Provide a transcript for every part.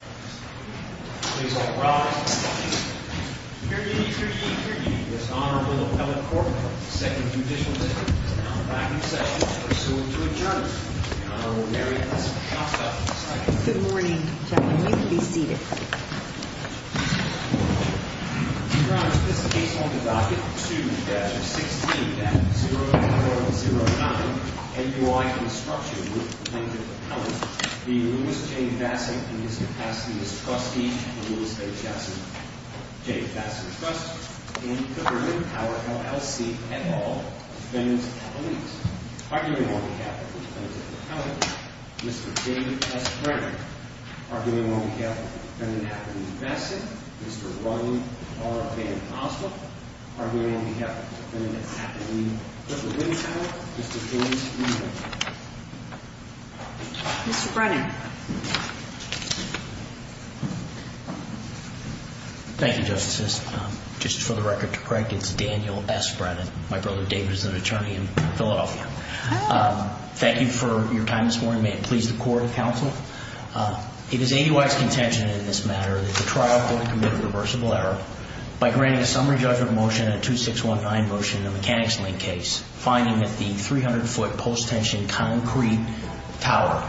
Please all rise and be seated. Period, period, period. This Honorable Appellate Court of the Second Judicial District is now back in session to pursue into adjournment. The Honorable Mary Elizabeth Johnson is next. Good morning, gentlemen. Please be seated. Your Honor, this case on the docket. Student Badger 16 at 0409 NUI Construction Group, linked to the appellant, the Louis J. Vaessen and his capacity as trustee of the Louis H.Vaessen J. Vaessen Trust in the Berlin Tower, LLC, et al. Defendant Appellate. Arguing on behalf of the Defendant Appellate, Mr. J. S. Brenner. Arguing on behalf of the Defendant Appellate, Vaessen. Mr. Ron R. Van Asselt. Arguing on behalf of the Defendant Appellate in the Berlin Tower, Mr. James Ewing. Mr. Brenner. Thank you, Justices. Just for the record to correct, it's Daniel S. Brenner. My brother David is an attorney in Philadelphia. Thank you for your time this morning. May it please the Court and Counsel. It is ADY's contention in this matter that the trial could have committed a reversible error by granting a summary judgment motion and a 2619 motion in a mechanics link case, finding that the 300-foot post-tension concrete tower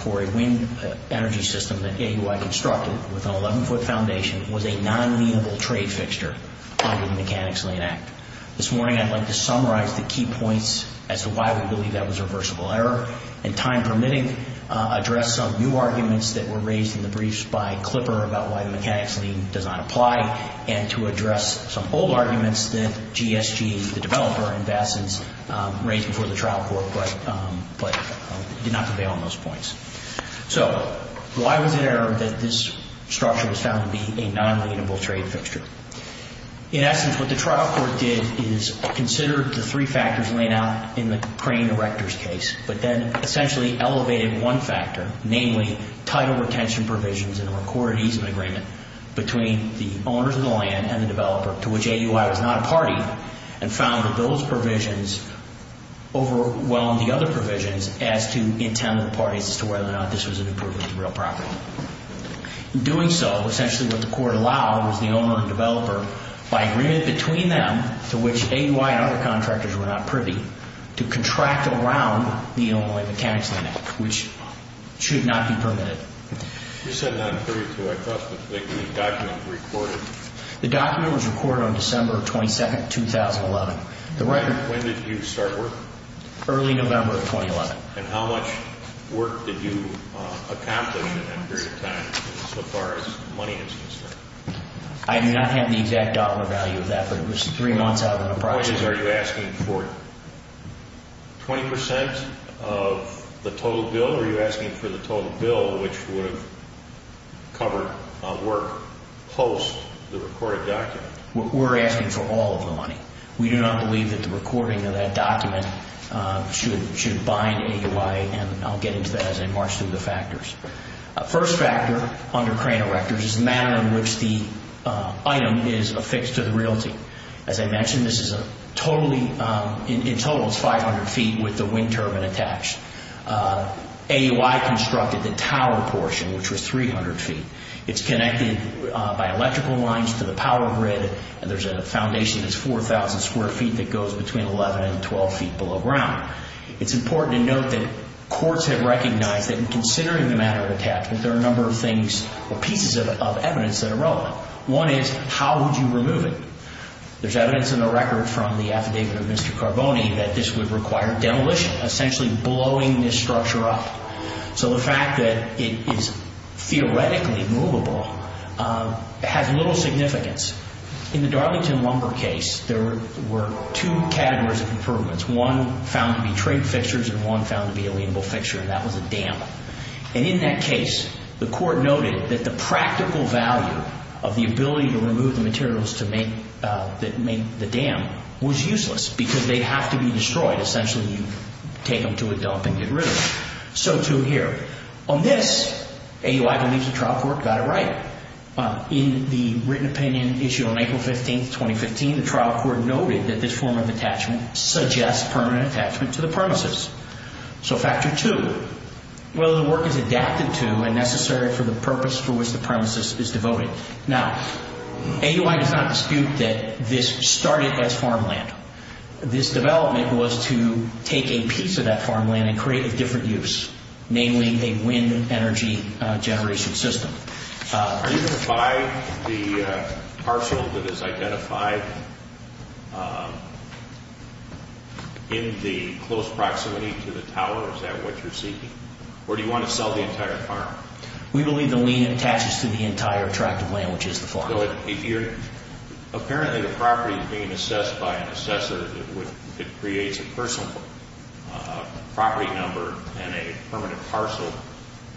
for a wind energy system that AUI constructed with an 11-foot foundation was a non-lienable trade fixture under the Mechanics' Lien Act. This morning I'd like to summarize the key points as to why we believe that was a reversible error. In time permitting, address some new arguments that were raised in the briefs by Klipper about why the Mechanics' Lien does not apply, and to address some old arguments that GSG, the developer, in essence, raised before the trial court, but did not prevail on those points. So why was it errored that this structure was found to be a non-lienable trade fixture? In essence, what the trial court did is consider the three factors laid out in the crane erector's case, but then essentially elevated one factor, namely title retention provisions and a recorded easement agreement between the owners of the land and the developer to which AUI was not a party, and found that those provisions overwhelmed the other provisions as to intent of the parties as to whether or not this was an improvement to real property. In doing so, essentially what the court allowed was the owner and developer, by agreement between them, to which AUI and other contractors were not privy, to contract around the only Mechanics' Lien Act, which should not be permitted. You said 932. I thought the document was recorded. The document was recorded on December 22, 2011. When did you start work? Early November of 2011. And how much work did you accomplish in that period of time, so far as money is concerned? I do not have the exact dollar value of that, but it was three months out of an approximate... My point is, are you asking for 20% of the total bill, or are you asking for the total bill which would have covered work post the recorded document? We're asking for all of the money. We do not believe that the recording of that document should bind AUI, and I'll get into that as I march through the factors. First factor under crane erectors is the manner in which the item is affixed to the realty. As I mentioned, this is a total of 500 feet with the wind turbine attached. AUI constructed the tower portion, which was 300 feet. It's connected by electrical lines to the power grid, and there's a foundation that's 4,000 square feet that goes between 11 and 12 feet below ground. It's important to note that courts have recognized that in considering the manner of attachment, there are a number of things or pieces of evidence that are relevant. One is, how would you remove it? There's evidence in the record from the affidavit of Mr. Carboni that this would require demolition, essentially blowing this structure up. So the fact that it is theoretically movable has little significance. In the Darlington Lumber case, there were two categories of improvements. One found to be trade fixtures, and one found to be a liable fixture, and that was a dam. In that case, the court noted that the practical value of the ability to remove the materials that made the dam was useless because they'd have to be destroyed. Essentially, you'd take them to a dump and get rid of them. So too here. On this, AUI believes the trial court got it right. In the written opinion issued on April 15, 2015, the trial court noted that this form of attachment suggests permanent attachment to the premises. So factor two, whether the work is adapted to and necessary for the purpose for which the premises is devoted. Now, AUI does not dispute that this started as farmland. This development was to take a piece of that farmland and create a different use, namely a wind energy generation system. Are you going to buy the parcel that is identified in the close proximity to the tower? Is that what you're seeking? Or do you want to sell the entire farm? We believe the lien attaches to the entire tract of land, which is the farm. Apparently, the property is being assessed by an assessor that creates a personal property number and a permanent parcel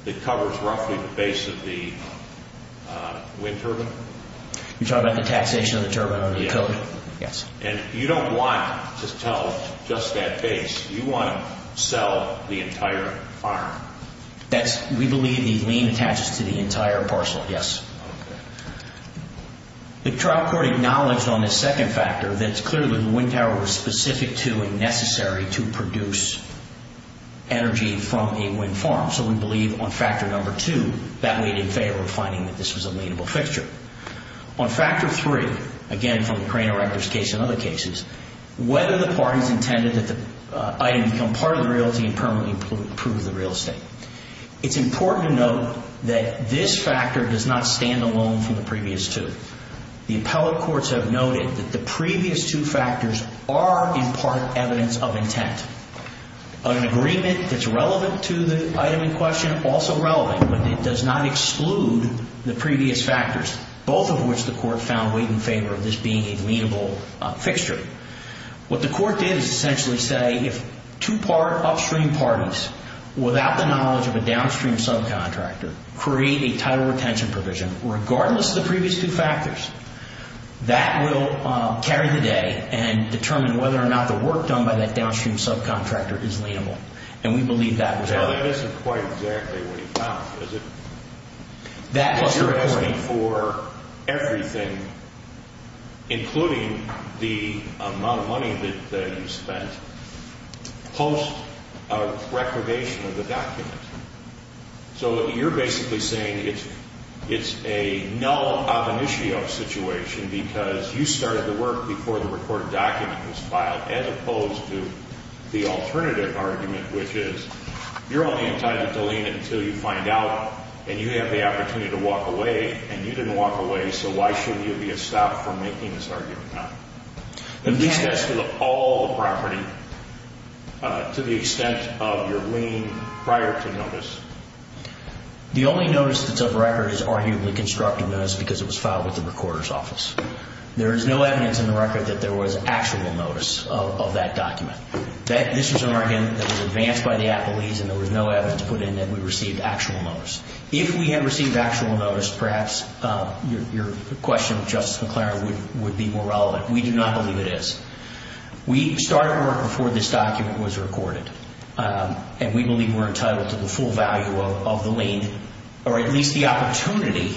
that covers roughly the base of the wind turbine. You're talking about the taxation of the turbine on the code? Yes. And you don't want to tell just that base. You want to sell the entire farm. We believe the lien attaches to the entire parcel, yes. Okay. The trial court acknowledged on this second factor that it's clear that the wind tower was specific to necessarily to produce energy from a wind farm. So we believe on factor number two that we did favor finding that this was a lienable fixture. On factor three, again from the crane erector's case and other cases, whether the parties intended that the item become part of the realty and permanently prove the real estate. It's important to note that this factor does not stand alone from the previous two. The appellate courts have noted that the previous two factors are in part evidence of intent. An agreement that's relevant to the item in question, also relevant, but it does not exclude the previous factors, both of which the court found weighed in favor of this being a lienable fixture. What the court did is essentially say if two part upstream parties, without the knowledge of a downstream subcontractor, create a title retention provision, regardless of the previous two factors, that will carry the day and determine whether or not the work done by that downstream subcontractor is lienable. And we believe that was... Well, that isn't quite exactly what you found, is it? That was your point. Because you're asking for everything, including the amount of money that you spent, post a reclamation of the document. So you're basically saying it's a null ob initio situation because you started the work before the recorded document was filed, as opposed to the alternative argument, which is you're only entitled to lien it until you find out and you have the opportunity to walk away, and you didn't walk away, so why shouldn't you be a stop for making this argument now? You discussed all the property to the extent of your lien prior to notice. The only notice that's of record is arguably constructive notice because it was filed with the recorder's office. There is no evidence in the record that there was actual notice of that document. This was an argument that was advanced by the appellees, and there was no evidence put in that we received actual notice. If we had received actual notice, perhaps your question, Justice McClaren, would be more relevant. We do not believe it is. We started work before this document was recorded, and we believe we're entitled to the full value of the lien, or at least the opportunity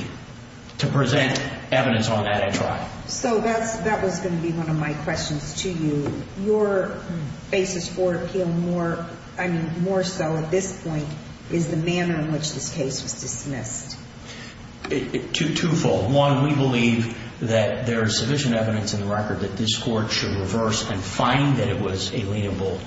to present evidence on that at trial. So that was going to be one of my questions to you. Your basis for appeal more so at this point is the manner in which this case was dismissed. Twofold. One, we believe that there is sufficient evidence in the record that this court should reverse and find that it was a lienable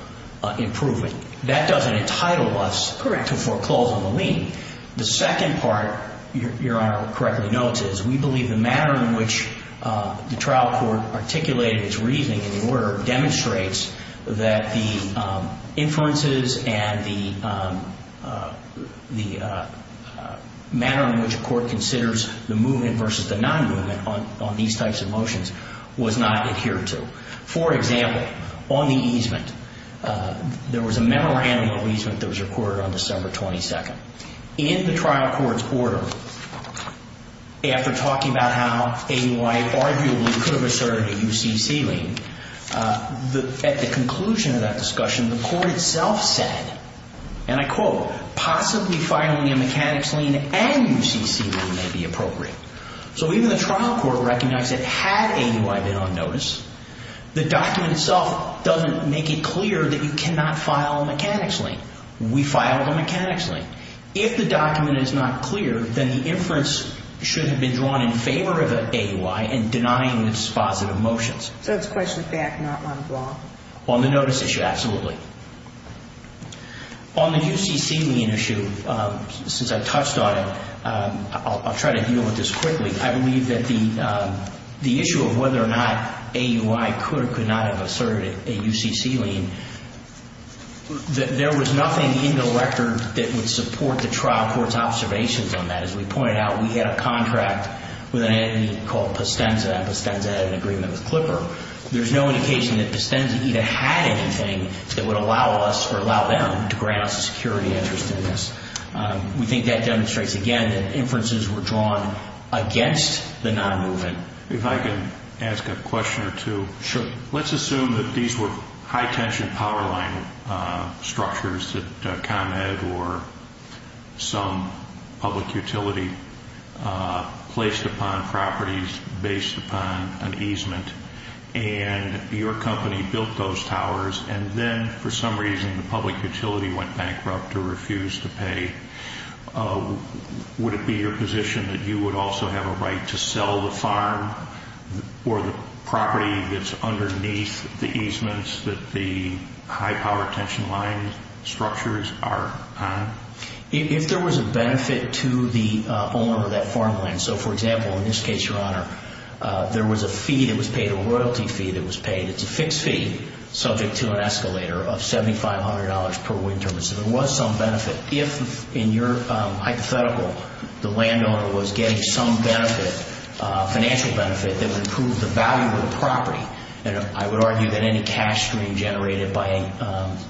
improvement. That doesn't entitle us to foreclose on the lien. The second part, your Honor correctly notes, is we believe the manner in which the trial court articulated its reasoning in the order demonstrates that the inferences and the manner in which the court considers the movement versus the non-movement on these types of motions was not adhered to. For example, on the easement, there was a memorandum of easement that was recorded on December 22nd. In the trial court's order, after talking about how AUI arguably could have asserted a UCC lien, at the conclusion of that discussion, the court itself said, and I quote, possibly filing a mechanics lien and UCC lien may be appropriate. So even the trial court recognized that had AUI been on notice, the document itself doesn't make it clear that you cannot file a mechanics lien. We filed a mechanics lien. If the document is not clear, then the inference should have been drawn in favor of AUI and denying its positive motions. So it's a question of fact and not one of law? On the notice issue, absolutely. On the UCC lien issue, since I touched on it, I'll try to deal with this quickly. I believe that the issue of whether or not AUI could or could not have asserted a UCC lien, there was nothing in the record that would support the trial court's observations on that. As we pointed out, we had a contract with an entity called Pistenza, and Pistenza had an agreement with Clipper. There's no indication that Pistenza either had anything that would allow us or allow them to grant us a security interest in this. We think that demonstrates, again, that inferences were drawn against the non-movement. If I could ask a question or two. Sure. Let's assume that these were high-tension power line structures that ComEd or some public utility placed upon properties based upon an easement, and your company built those towers, and then for some reason the public utility went bankrupt or refused to pay. Would it be your position that you would also have a right to sell the farm or the property that's underneath the easements that the high-power tension line structures are on? If there was a benefit to the owner of that farmland, so, for example, in this case, Your Honor, there was a fee that was paid, a royalty fee that was paid. It's a fixed fee subject to an escalator of $7,500 per wind turbine, so there was some benefit. If, in your hypothetical, the landowner was getting some benefit, financial benefit, that would prove the value of the property, I would argue that any cash stream generated by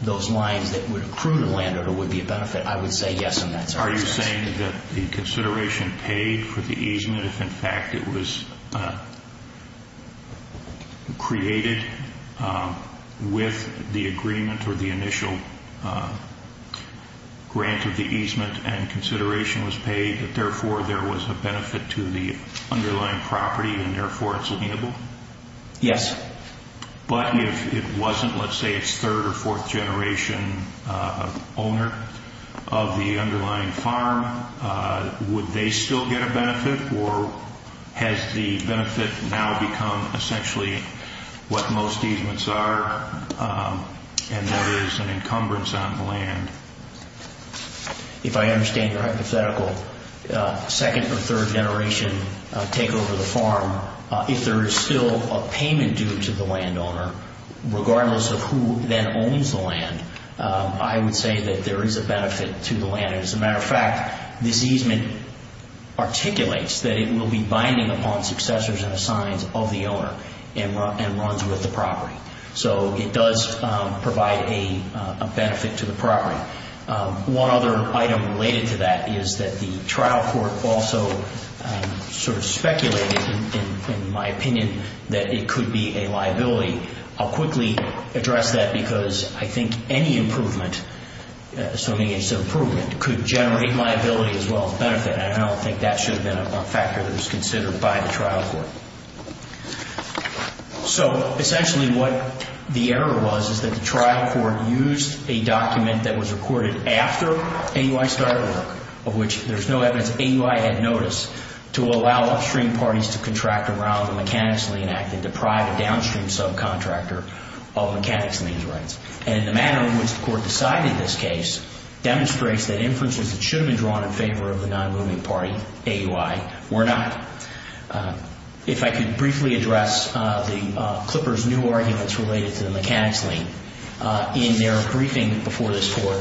those lines that would accrue to the landowner would be a benefit. I would say yes on that. Are you saying that the consideration paid for the easement, if, in fact, it was created with the agreement or the initial grant of the easement and consideration was paid, that, therefore, there was a benefit to the underlying property and, therefore, it's liable? Yes. But if it wasn't, let's say, its third or fourth generation owner of the underlying farm, would they still get a benefit or has the benefit now become essentially what most easements are and there is an encumbrance on the land? If I understand your hypothetical, second or third generation take over the farm, if there is still a payment due to the landowner, regardless of who then owns the land, I would say that there is a benefit to the land. As a matter of fact, this easement articulates that it will be binding upon successors and assigns of the owner and runs with the property. So it does provide a benefit to the property. One other item related to that is that the trial court also sort of speculated, in my opinion, that it could be a liability. I'll quickly address that because I think any improvement, assuming it's an improvement, could generate liability as well as benefit, and I don't think that should have been a factor that was considered by the trial court. So essentially what the error was is that the trial court used a document that was recorded after AUI started work, of which there's no evidence AUI had notice, to allow upstream parties to contract around the Mechanics' Lien Act and deprive a downstream subcontractor of Mechanics' Lien rights. And the manner in which the court decided this case demonstrates that inferences that should have been drawn in favor of the non-moving party, AUI, were not. If I could briefly address the Clippers' new arguments related to the Mechanics' Lien in their briefing before this court,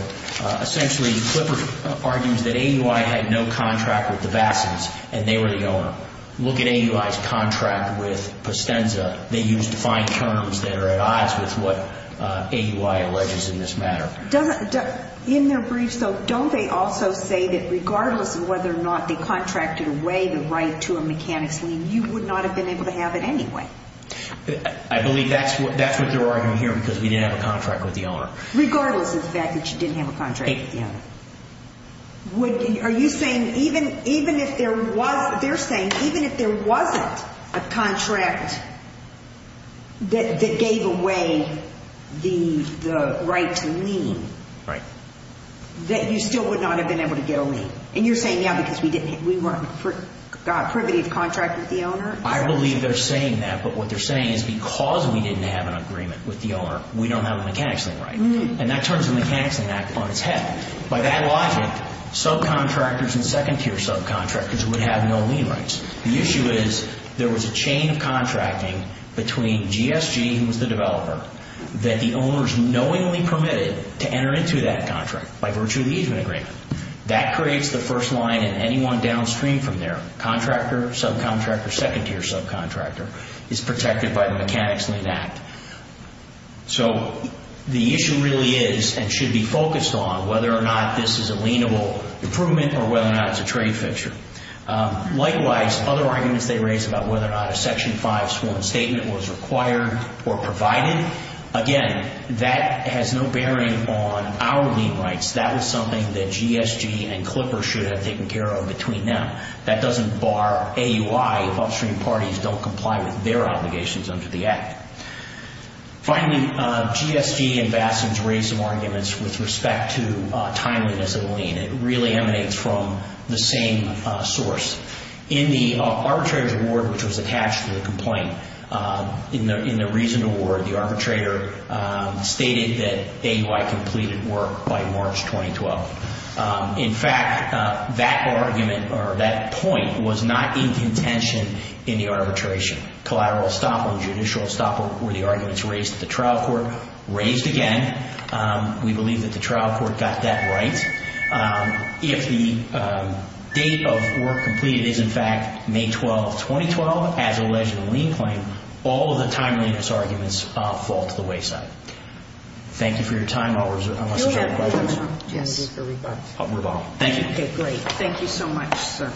essentially Clippers argues that AUI had no contract with the Bassins and they were the owner. Look at AUI's contract with Postenza. They used defined terms that are at odds with what AUI alleges in this matter. In their briefs, though, don't they also say that regardless of whether or not they contracted away the right to a Mechanics' Lien, you would not have been able to have it anyway? I believe that's what they're arguing here because we didn't have a contract with the owner. Regardless of the fact that you didn't have a contract with the owner. Are you saying even if there wasn't a contract that gave away the right to lien, that you still would not have been able to get a lien? And you're saying, yeah, because we weren't privy to contract with the owner? I believe they're saying that, but what they're saying is because we didn't have an agreement with the owner, we don't have a Mechanics' Lien right. And that turns the Mechanics' Lien Act on its head. By that logic, subcontractors and second-tier subcontractors would have no lien rights. The issue is there was a chain of contracting between GSG, who was the developer, that the owners knowingly permitted to enter into that contract by virtue of the easement agreement. That creates the first line and anyone downstream from there, contractor, subcontractor, second-tier subcontractor, is protected by the Mechanics' Lien Act. So the issue really is and should be focused on whether or not this is a lienable improvement or whether or not it's a trade fixture. Likewise, other arguments they raise about whether or not a Section 5 sworn statement was required or provided, again, that has no bearing on our lien rights. That is something that GSG and Clipper should have taken care of between them. That doesn't bar AUI if upstream parties don't comply with their obligations under the Act. Finally, GSG ambassadors raise some arguments with respect to timeliness of lien. It really emanates from the same source. In the arbitrator's award, which was attached to the complaint, in the reasoned award, the arbitrator stated that AUI completed work by March 2012. In fact, that argument or that point was not in contention in the arbitration. Collateral estoppel and judicial estoppel were the arguments raised at the trial court. Raised again, we believe that the trial court got that right. If the date of work completed is, in fact, May 12, 2012, as alleged in the lien claim, all of the timeliness arguments fall to the wayside. Thank you for your time. I'll move on. Thank you. Okay, great. Thank you so much, sir.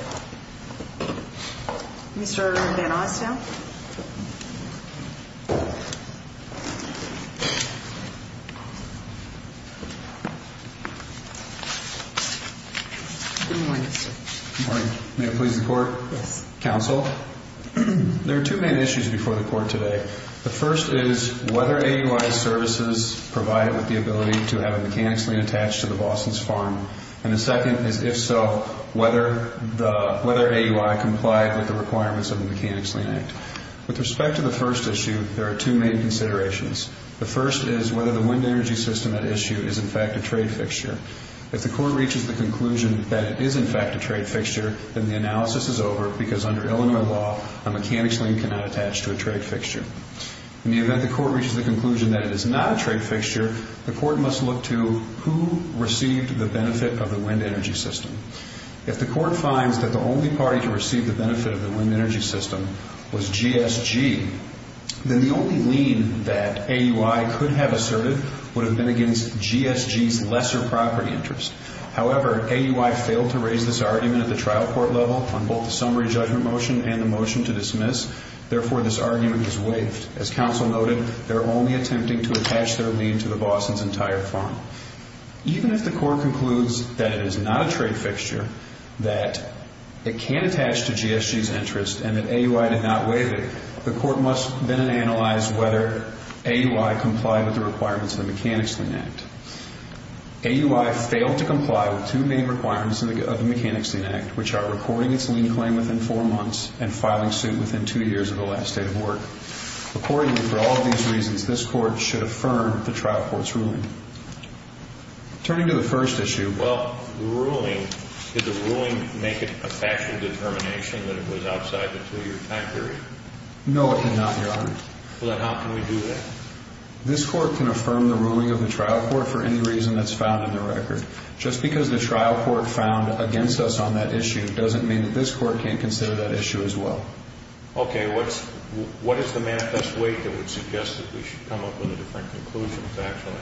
Mr. Van Osdale? Good morning, sir. Good morning. May it please the Court? Yes. Counsel, there are two main issues before the Court today. The first is whether AUI's services provide with the ability to have a mechanics lien attached to the Boston's farm, and the second is, if so, whether AUI complied with the requirements of the Mechanics Lien Act. With respect to the first issue, there are two main considerations. The first is whether the wind energy system at issue is, in fact, a trade fixture. If the Court reaches the conclusion that it is, in fact, a trade fixture, then the analysis is over because, under Illinois law, a mechanics lien cannot attach to a trade fixture. In the event the Court reaches the conclusion that it is not a trade fixture, the Court must look to who received the benefit of the wind energy system. If the Court finds that the only party to receive the benefit of the wind energy system was GSG, then the only lien that AUI could have asserted would have been against GSG's lesser property interest. However, AUI failed to raise this argument at the trial court level on both the summary judgment motion and the motion to dismiss. Therefore, this argument is waived. As counsel noted, they're only attempting to attach their lien to the Boston's entire farm. Even if the Court concludes that it is not a trade fixture, that it can attach to GSG's interest, and that AUI did not waive it, the Court must then analyze whether AUI complied with the requirements of the Mechanics Lien Act. AUI failed to comply with two main requirements of the Mechanics Lien Act, which are reporting its lien claim within four months and filing suit within two years of the last date of work. Accordingly, for all of these reasons, this Court should affirm the trial court's ruling. Turning to the first issue, well, the ruling, did the ruling make it a factual determination that it was outside the two-year time period? No, it did not, Your Honor. Well, then how can we do that? This Court can affirm the ruling of the trial court for any reason that's found in the record. Just because the trial court found against us on that issue doesn't mean that this Court can't consider that issue as well. Okay. What is the manifest weight that would suggest that we should come up with a different conclusion factually?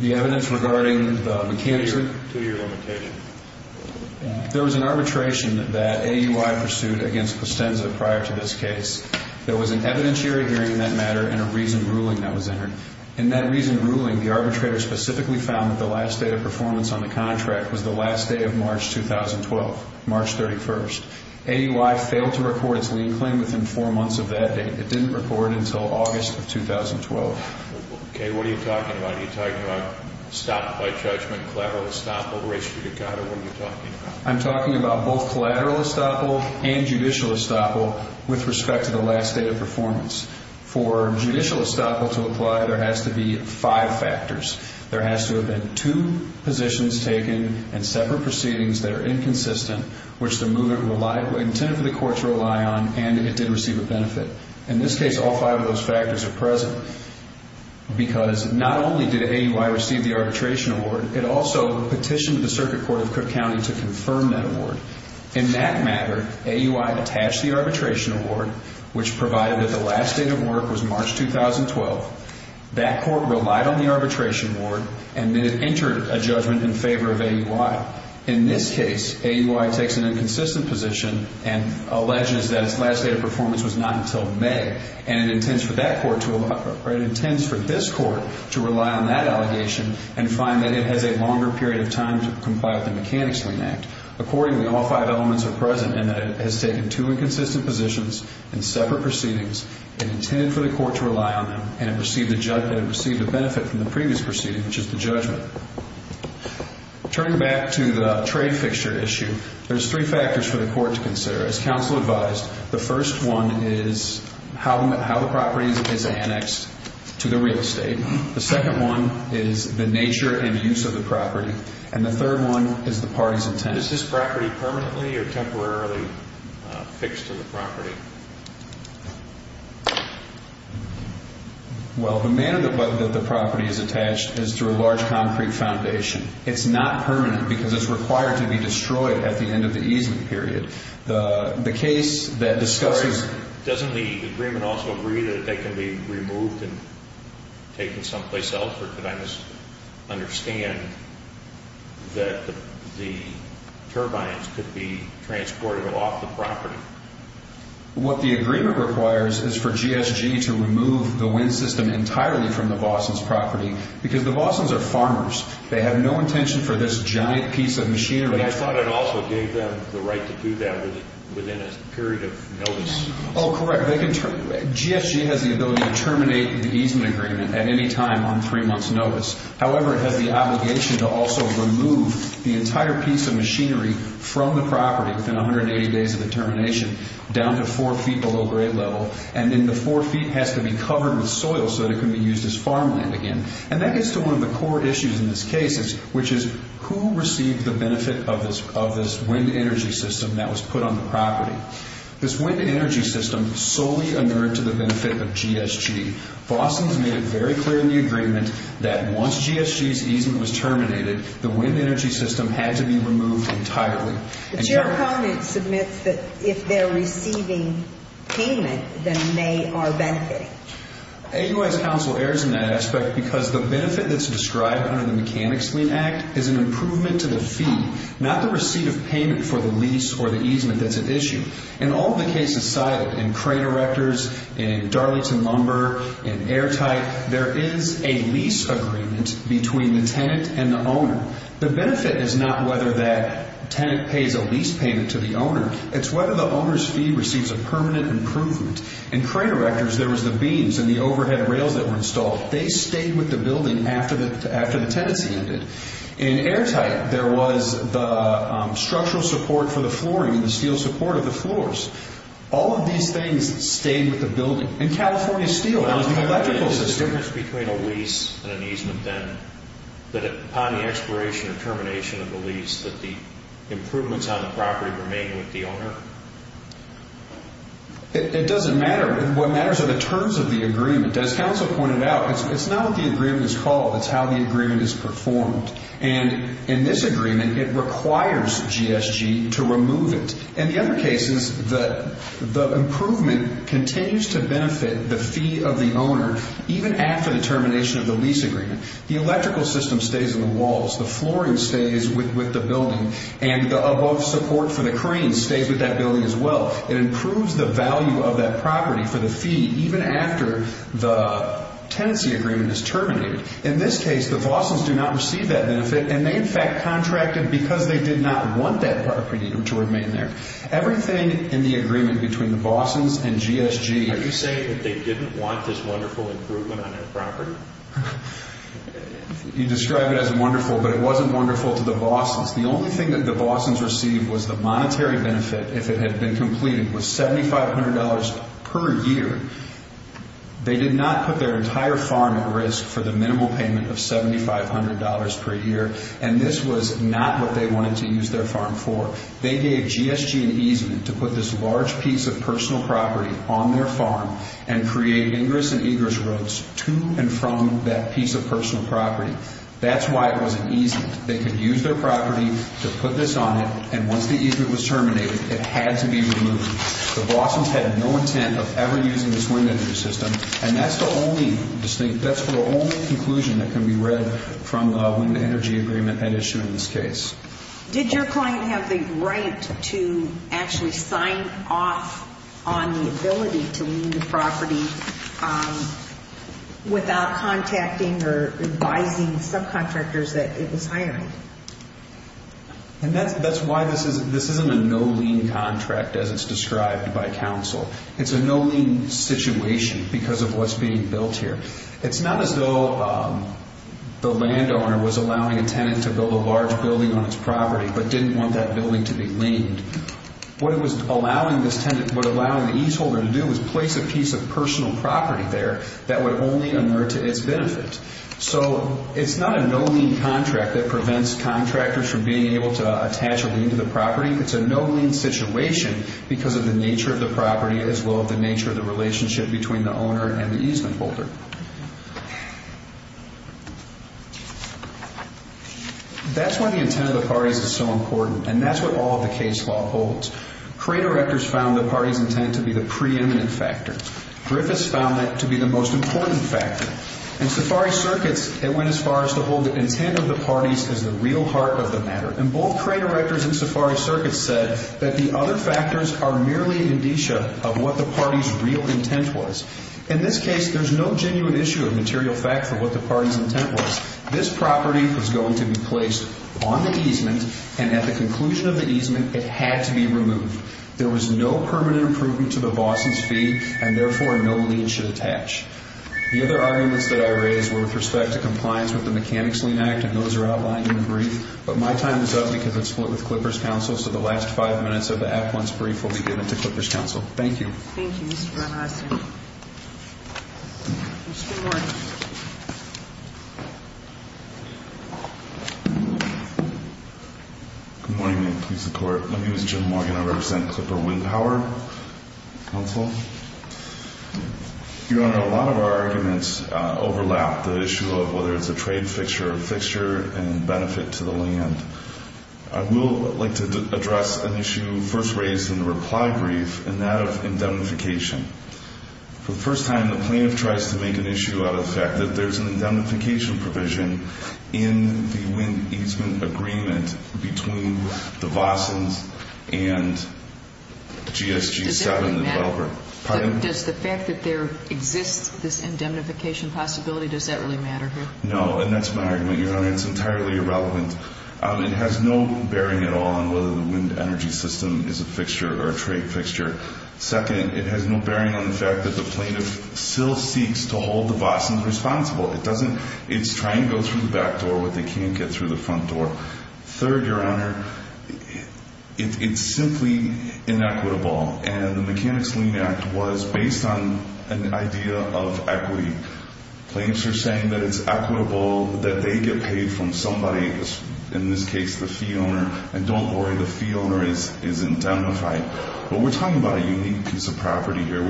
The evidence regarding the Mechanics Lien Act? Two-year limitation. There was an arbitration that AUI pursued against Costenza prior to this case. There was an evidentiary hearing in that matter and a reasoned ruling that was entered. In that reasoned ruling, the arbitrator specifically found that the last day of performance on the contract was the last day of March 2012, March 31st. AUI failed to record its lien claim within four months of that date. It didn't record it until August of 2012. Okay. What are you talking about? Are you talking about stop by judgment, collateral estoppel, res judicata? What are you talking about? I'm talking about both collateral estoppel and judicial estoppel with respect to the last day of performance. For judicial estoppel to apply, there has to be five factors. There has to have been two positions taken and separate proceedings that are inconsistent, which the movement intended for the Court to rely on, and it did receive a benefit. In this case, all five of those factors are present because not only did AUI receive the arbitration award, it also petitioned the Circuit Court of Cook County to confirm that award. In that matter, AUI attached the arbitration award, which provided that the last day of work was March 2012. That court relied on the arbitration award and then it entered a judgment in favor of AUI. In this case, AUI takes an inconsistent position and alleges that its last day of performance was not until May, and it intends for this court to rely on that allegation and find that it has a longer period of time to comply with the Mechanics Lien Act. Accordingly, all five elements are present in that it has taken two inconsistent positions and separate proceedings and intended for the Court to rely on them, and it received a benefit from the previous proceeding, which is the judgment. Turning back to the trade fixture issue, there's three factors for the Court to consider. As counsel advised, the first one is how the property is annexed to the real estate. The second one is the nature and use of the property, and the third one is the party's intent. Is this property permanently or temporarily fixed to the property? Well, the manner that the property is attached is through a large concrete foundation. It's not permanent because it's required to be destroyed at the end of the easement period. Doesn't the agreement also agree that they can be removed and taken someplace else, or could I just understand that the turbines could be transported off the property? What the agreement requires is for GSG to remove the wind system entirely from the Bossons' property, because the Bossons are farmers. They have no intention for this giant piece of machinery. But I thought it also gave them the right to do that within a period of notice. Oh, correct. GSG has the ability to terminate the easement agreement at any time on three months' notice. However, it has the obligation to also remove the entire piece of machinery from the property within 180 days of the termination down to four feet below grade level, and then the four feet has to be covered with soil so that it can be used as farmland again. And that gets to one of the core issues in this case, which is, who received the benefit of this wind energy system that was put on the property? This wind energy system solely inured to the benefit of GSG. Bossons made it very clear in the agreement that once GSG's easement was terminated, the wind energy system had to be removed entirely. But your opponent submits that if they're receiving payment, then they are benefiting. AUS Council errs in that aspect because the benefit that's described under the Mechanics Wind Act is an improvement to the fee, not the receipt of payment for the lease or the easement that's at issue. In all of the cases cited, in Crater Rectors, in Darlington Lumber, in Airtight, there is a lease agreement between the tenant and the owner. The benefit is not whether that tenant pays a lease payment to the owner. It's whether the owner's fee receives a permanent improvement. In Crater Rectors, there was the beams and the overhead rails that were installed. They stayed with the building after the tenancy ended. In Airtight, there was the structural support for the flooring and the steel support of the floors. All of these things stayed with the building. In California Steel, that was the electrical system. Is there a difference between a lease and an easement then, that upon the expiration or termination of the lease, that the improvements on the property remain with the owner? It doesn't matter. What matters are the terms of the agreement. As counsel pointed out, it's not what the agreement is called. It's how the agreement is performed. And in this agreement, it requires GSG to remove it. In the other cases, the improvement continues to benefit the fee of the owner even after the termination of the lease agreement. The electrical system stays on the walls. The flooring stays with the building. And the above support for the cranes stays with that building as well. It improves the value of that property for the fee even after the tenancy agreement is terminated. In this case, the Bossons do not receive that benefit, and they in fact contracted because they did not want that property to remain there. Everything in the agreement between the Bossons and GSG… Are you saying that they didn't want this wonderful improvement on their property? You describe it as wonderful, but it wasn't wonderful to the Bossons. The only thing that the Bossons received was the monetary benefit, if it had been completed, was $7,500 per year. They did not put their entire farm at risk for the minimal payment of $7,500 per year, and this was not what they wanted to use their farm for. They gave GSG an easement to put this large piece of personal property on their farm and create ingress and egress roads to and from that piece of personal property. That's why it was an easement. They could use their property to put this on it, and once the easement was terminated, it had to be removed. The Bossons had no intent of ever using this wind energy system, and that's the only conclusion that can be read from the wind energy agreement at issue in this case. Did your client have the right to actually sign off on the ability to leave the property without contacting or advising subcontractors that it was hiring? That's why this isn't a no-lien contract as it's described by counsel. It's a no-lien situation because of what's being built here. It's not as though the landowner was allowing a tenant to build a large building on its property but didn't want that building to be liened. What it was allowing the easement holder to do was place a piece of personal property there that would only inert to its benefit. It's not a no-lien contract that prevents contractors from being able to attach a lien to the property. It's a no-lien situation because of the nature of the property as well as the nature of the relationship between the owner and the easement holder. That's why the intent of the parties is so important, and that's what all of the case law holds. Cray directors found the parties' intent to be the preeminent factor. Griffiths found that to be the most important factor. In Safari Circuits, it went as far as to hold the intent of the parties as the real heart of the matter. Both Cray directors and Safari Circuits said that the other factors are merely indicia of what the parties' real intent was. In this case, there's no genuine issue of material fact for what the parties' intent was. This property was going to be placed on the easement, and at the conclusion of the easement, it had to be removed. There was no permanent improvement to the boss's fee, and therefore, no lien should attach. The other arguments that I raised were with respect to compliance with the Mechanics' Lien Act, and those are outlined in the brief, but my time is up because it's split with Clippers' Counsel, so the last five minutes of the at-once brief will be given to Clippers' Counsel. Thank you. Thank you, Mr. Van Hassen. Mr. Morgan. Good morning, Ma'am. Please support. My name is Jim Morgan. I represent Clipper Wind Power Counsel. Your Honor, a lot of our arguments overlap the issue of whether it's a trade fixture or fixture and benefit to the land. I will like to address an issue first raised in the reply brief, and that of indemnification. For the first time, the plaintiff tries to make an issue out of the fact that there's an indemnification provision in the wind easement agreement between the Bossons and GSG 7 developer. Does that really matter? Pardon? Does the fact that there exists this indemnification possibility, does that really matter here? No, and that's my argument, Your Honor. It's entirely irrelevant. It has no bearing at all on whether the wind energy system is a fixture or a trade fixture. Second, it has no bearing on the fact that the plaintiff still seeks to hold the Bossons responsible. It's trying to go through the back door when they can't get through the front door. Third, Your Honor, it's simply inequitable, and the Mechanics' Lien Act was based on an idea of equity. Plaintiffs are saying that it's equitable that they get paid from somebody, in this case the fee owner, and don't worry, the fee owner is indemnified. But we're talking about a unique piece of property here.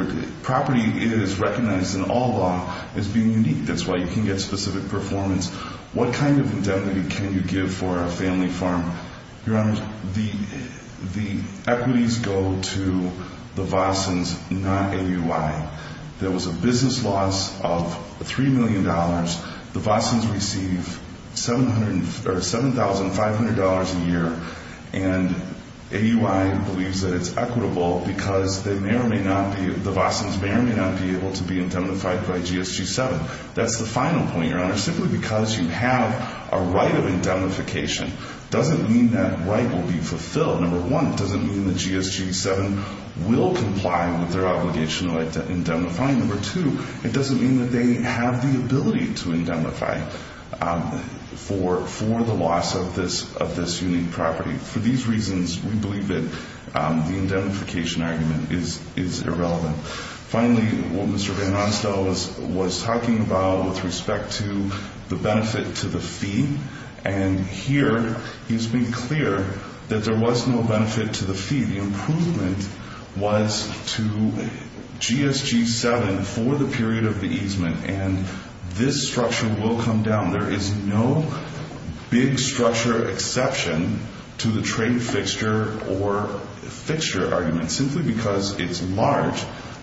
Property is recognized in all law as being unique. That's why you can get specific performance. What kind of indemnity can you give for a family farm? Your Honor, the equities go to the Bossons, not AUI. There was a business loss of $3 million. The Bossons receive $7,500 a year, and AUI believes that it's equitable because the Bossons may or may not be able to be indemnified by GSG 7. That's the final point, Your Honor. Simply because you have a right of indemnification doesn't mean that right will be fulfilled. Number one, it doesn't mean that GSG 7 will comply with their obligation to indemnify. Number two, it doesn't mean that they have the ability to indemnify for the loss of this unique property. For these reasons, we believe that the indemnification argument is irrelevant. Finally, what Mr. Van Ronstel was talking about with respect to the benefit to the fee, and here he's been clear that there was no benefit to the fee. The improvement was to GSG 7 for the period of the easement, and this structure will come down. There is no big structure exception to the trade fixture or fixture argument. Simply because it's large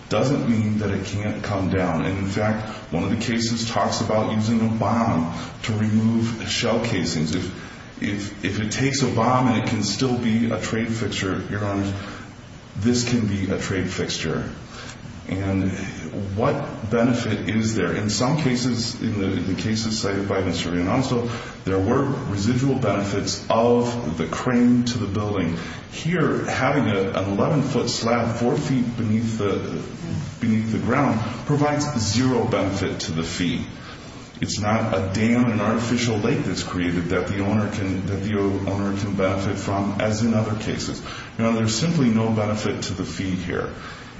doesn't mean that it can't come down. In fact, one of the cases talks about using a bomb to remove shell casings. If it takes a bomb and it can still be a trade fixture, Your Honor, this can be a trade fixture. What benefit is there? In some cases, in the cases cited by Mr. Van Ronstel, there were residual benefits of the crane to the building. Here, having an 11-foot slab four feet beneath the ground provides zero benefit to the fee. It's not a dam, an artificial lake that's created that the owner can benefit from, as in other cases. There's simply no benefit to the fee here,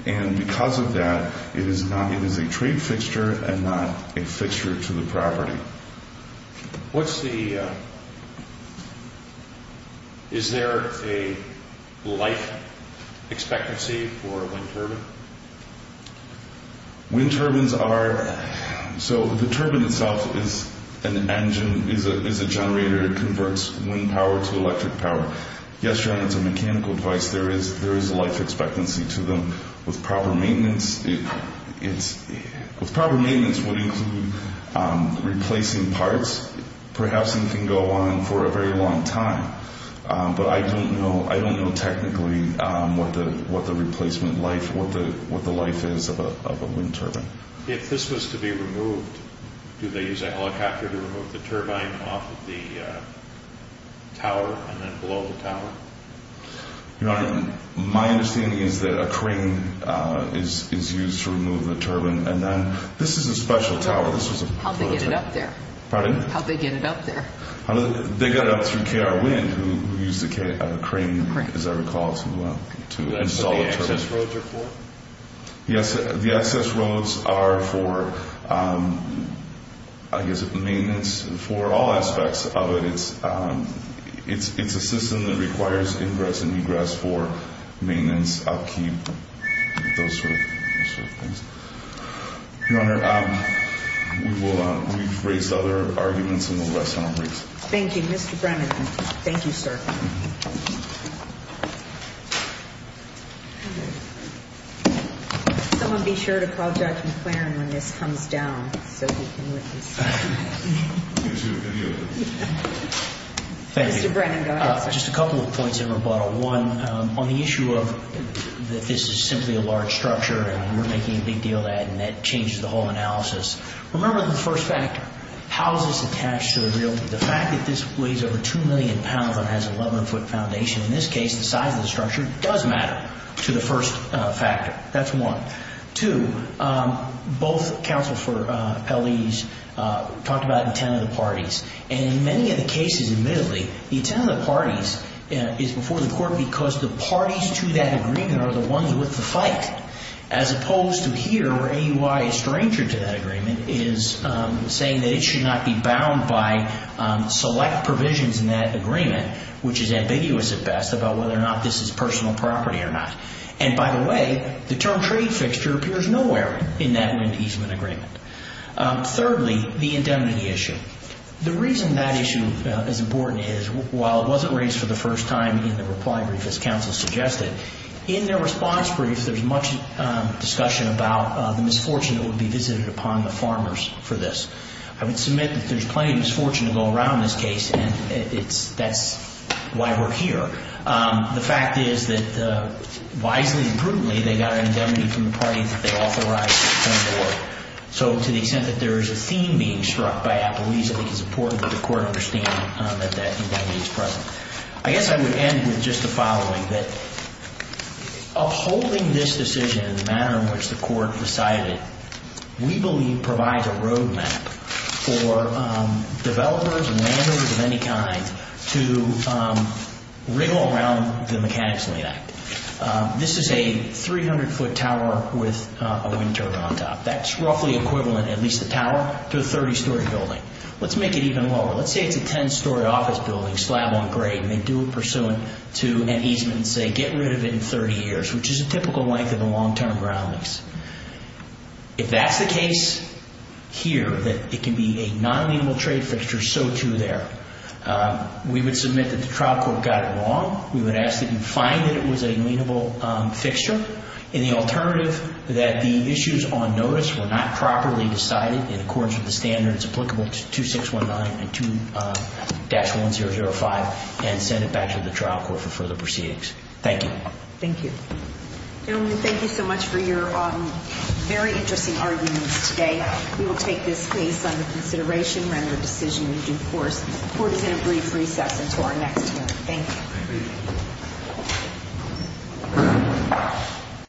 and because of that, it is a trade fixture and not a fixture to the property. What's the – is there a life expectancy for a wind turbine? Wind turbines are – so the turbine itself is an engine, is a generator. It converts wind power to electric power. Yes, Your Honor, it's a mechanical device. There is a life expectancy to them. With proper maintenance, it's – with proper maintenance would include replacing parts. Perhaps it can go on for a very long time, but I don't know – I don't know technically what the replacement life – what the life is of a wind turbine. If this was to be removed, do they use a helicopter to remove the turbine off of the tower and then below the tower? Your Honor, my understanding is that a crane is used to remove the turbine, and then this is a special tower. This was a – How'd they get it up there? Pardon? How'd they get it up there? They got it up through KR Wind, who used a crane, as I recall, to install the turbine. Is that what the access roads are for? Yes, the access roads are for, I guess, maintenance for all aspects of it. It's a system that requires ingress and egress for maintenance, upkeep, those sort of things. Your Honor, we've raised other arguments in the last several weeks. Thank you, Mr. Brennan. Thank you, sir. Someone be sure to call Judge McClaren when this comes down so he can witness. I'm going to see what we can do. Thank you. Mr. Brennan, go ahead, sir. Just a couple of points in rebuttal. One, on the issue of that this is simply a large structure, and we're making a big deal of that, and that changes the whole analysis. Remember the first factor, how is this attached to the realty? The fact that this weighs over 2 million pounds and has an 11-foot foundation, in this case, the size of the structure does matter to the first factor. That's one. Two, both counsel for LEs talked about intent of the parties. In many of the cases, admittedly, the intent of the parties is before the court because the parties to that agreement are the ones with the fight, as opposed to here where AUI is stranger to that agreement is saying that it should not be bound by select provisions in that agreement, which is ambiguous at best about whether or not this is personal property or not. And by the way, the term trade fixture appears nowhere in that wind easement agreement. Thirdly, the indemnity issue. The reason that issue is important is while it wasn't raised for the first time in the reply brief, as counsel suggested, in their response brief there's much discussion about the misfortune that would be visited upon the farmers for this. I would submit that there's plenty of misfortune to go around in this case, and that's why we're here. The fact is that wisely and prudently they got an indemnity from the parties that they authorized to come to work. So to the extent that there is a theme being struck by that, I believe it is important that the court understand that that indemnity is present. I guess I would end with just the following, that upholding this decision in the manner in which the court decided, we believe provides a roadmap for developers and managers of any kind to wriggle around the mechanics of the act. This is a 300-foot tower with a wind turbine on top. That's roughly equivalent, at least the tower, to a 30-story building. Let's make it even lower. Let's say it's a 10-story office building slab on grade, and they do it pursuant to an easement, and say, get rid of it in 30 years, which is a typical length of a long-term ground lease. If that's the case here, that it can be a non-lienable trade fixture, so too there. We would submit that the trial court got it wrong. We would ask that you find that it was a lienable fixture, and the alternative that the issues on notice were not properly decided in accordance with the standards applicable to 2619 and 2-1005 and send it back to the trial court for further proceedings. Thank you. Thank you. Gentlemen, thank you so much for your very interesting arguments today. We will take this case under consideration, render a decision in due course. The court is in a brief recess until our next hearing. Thank you. Thank you.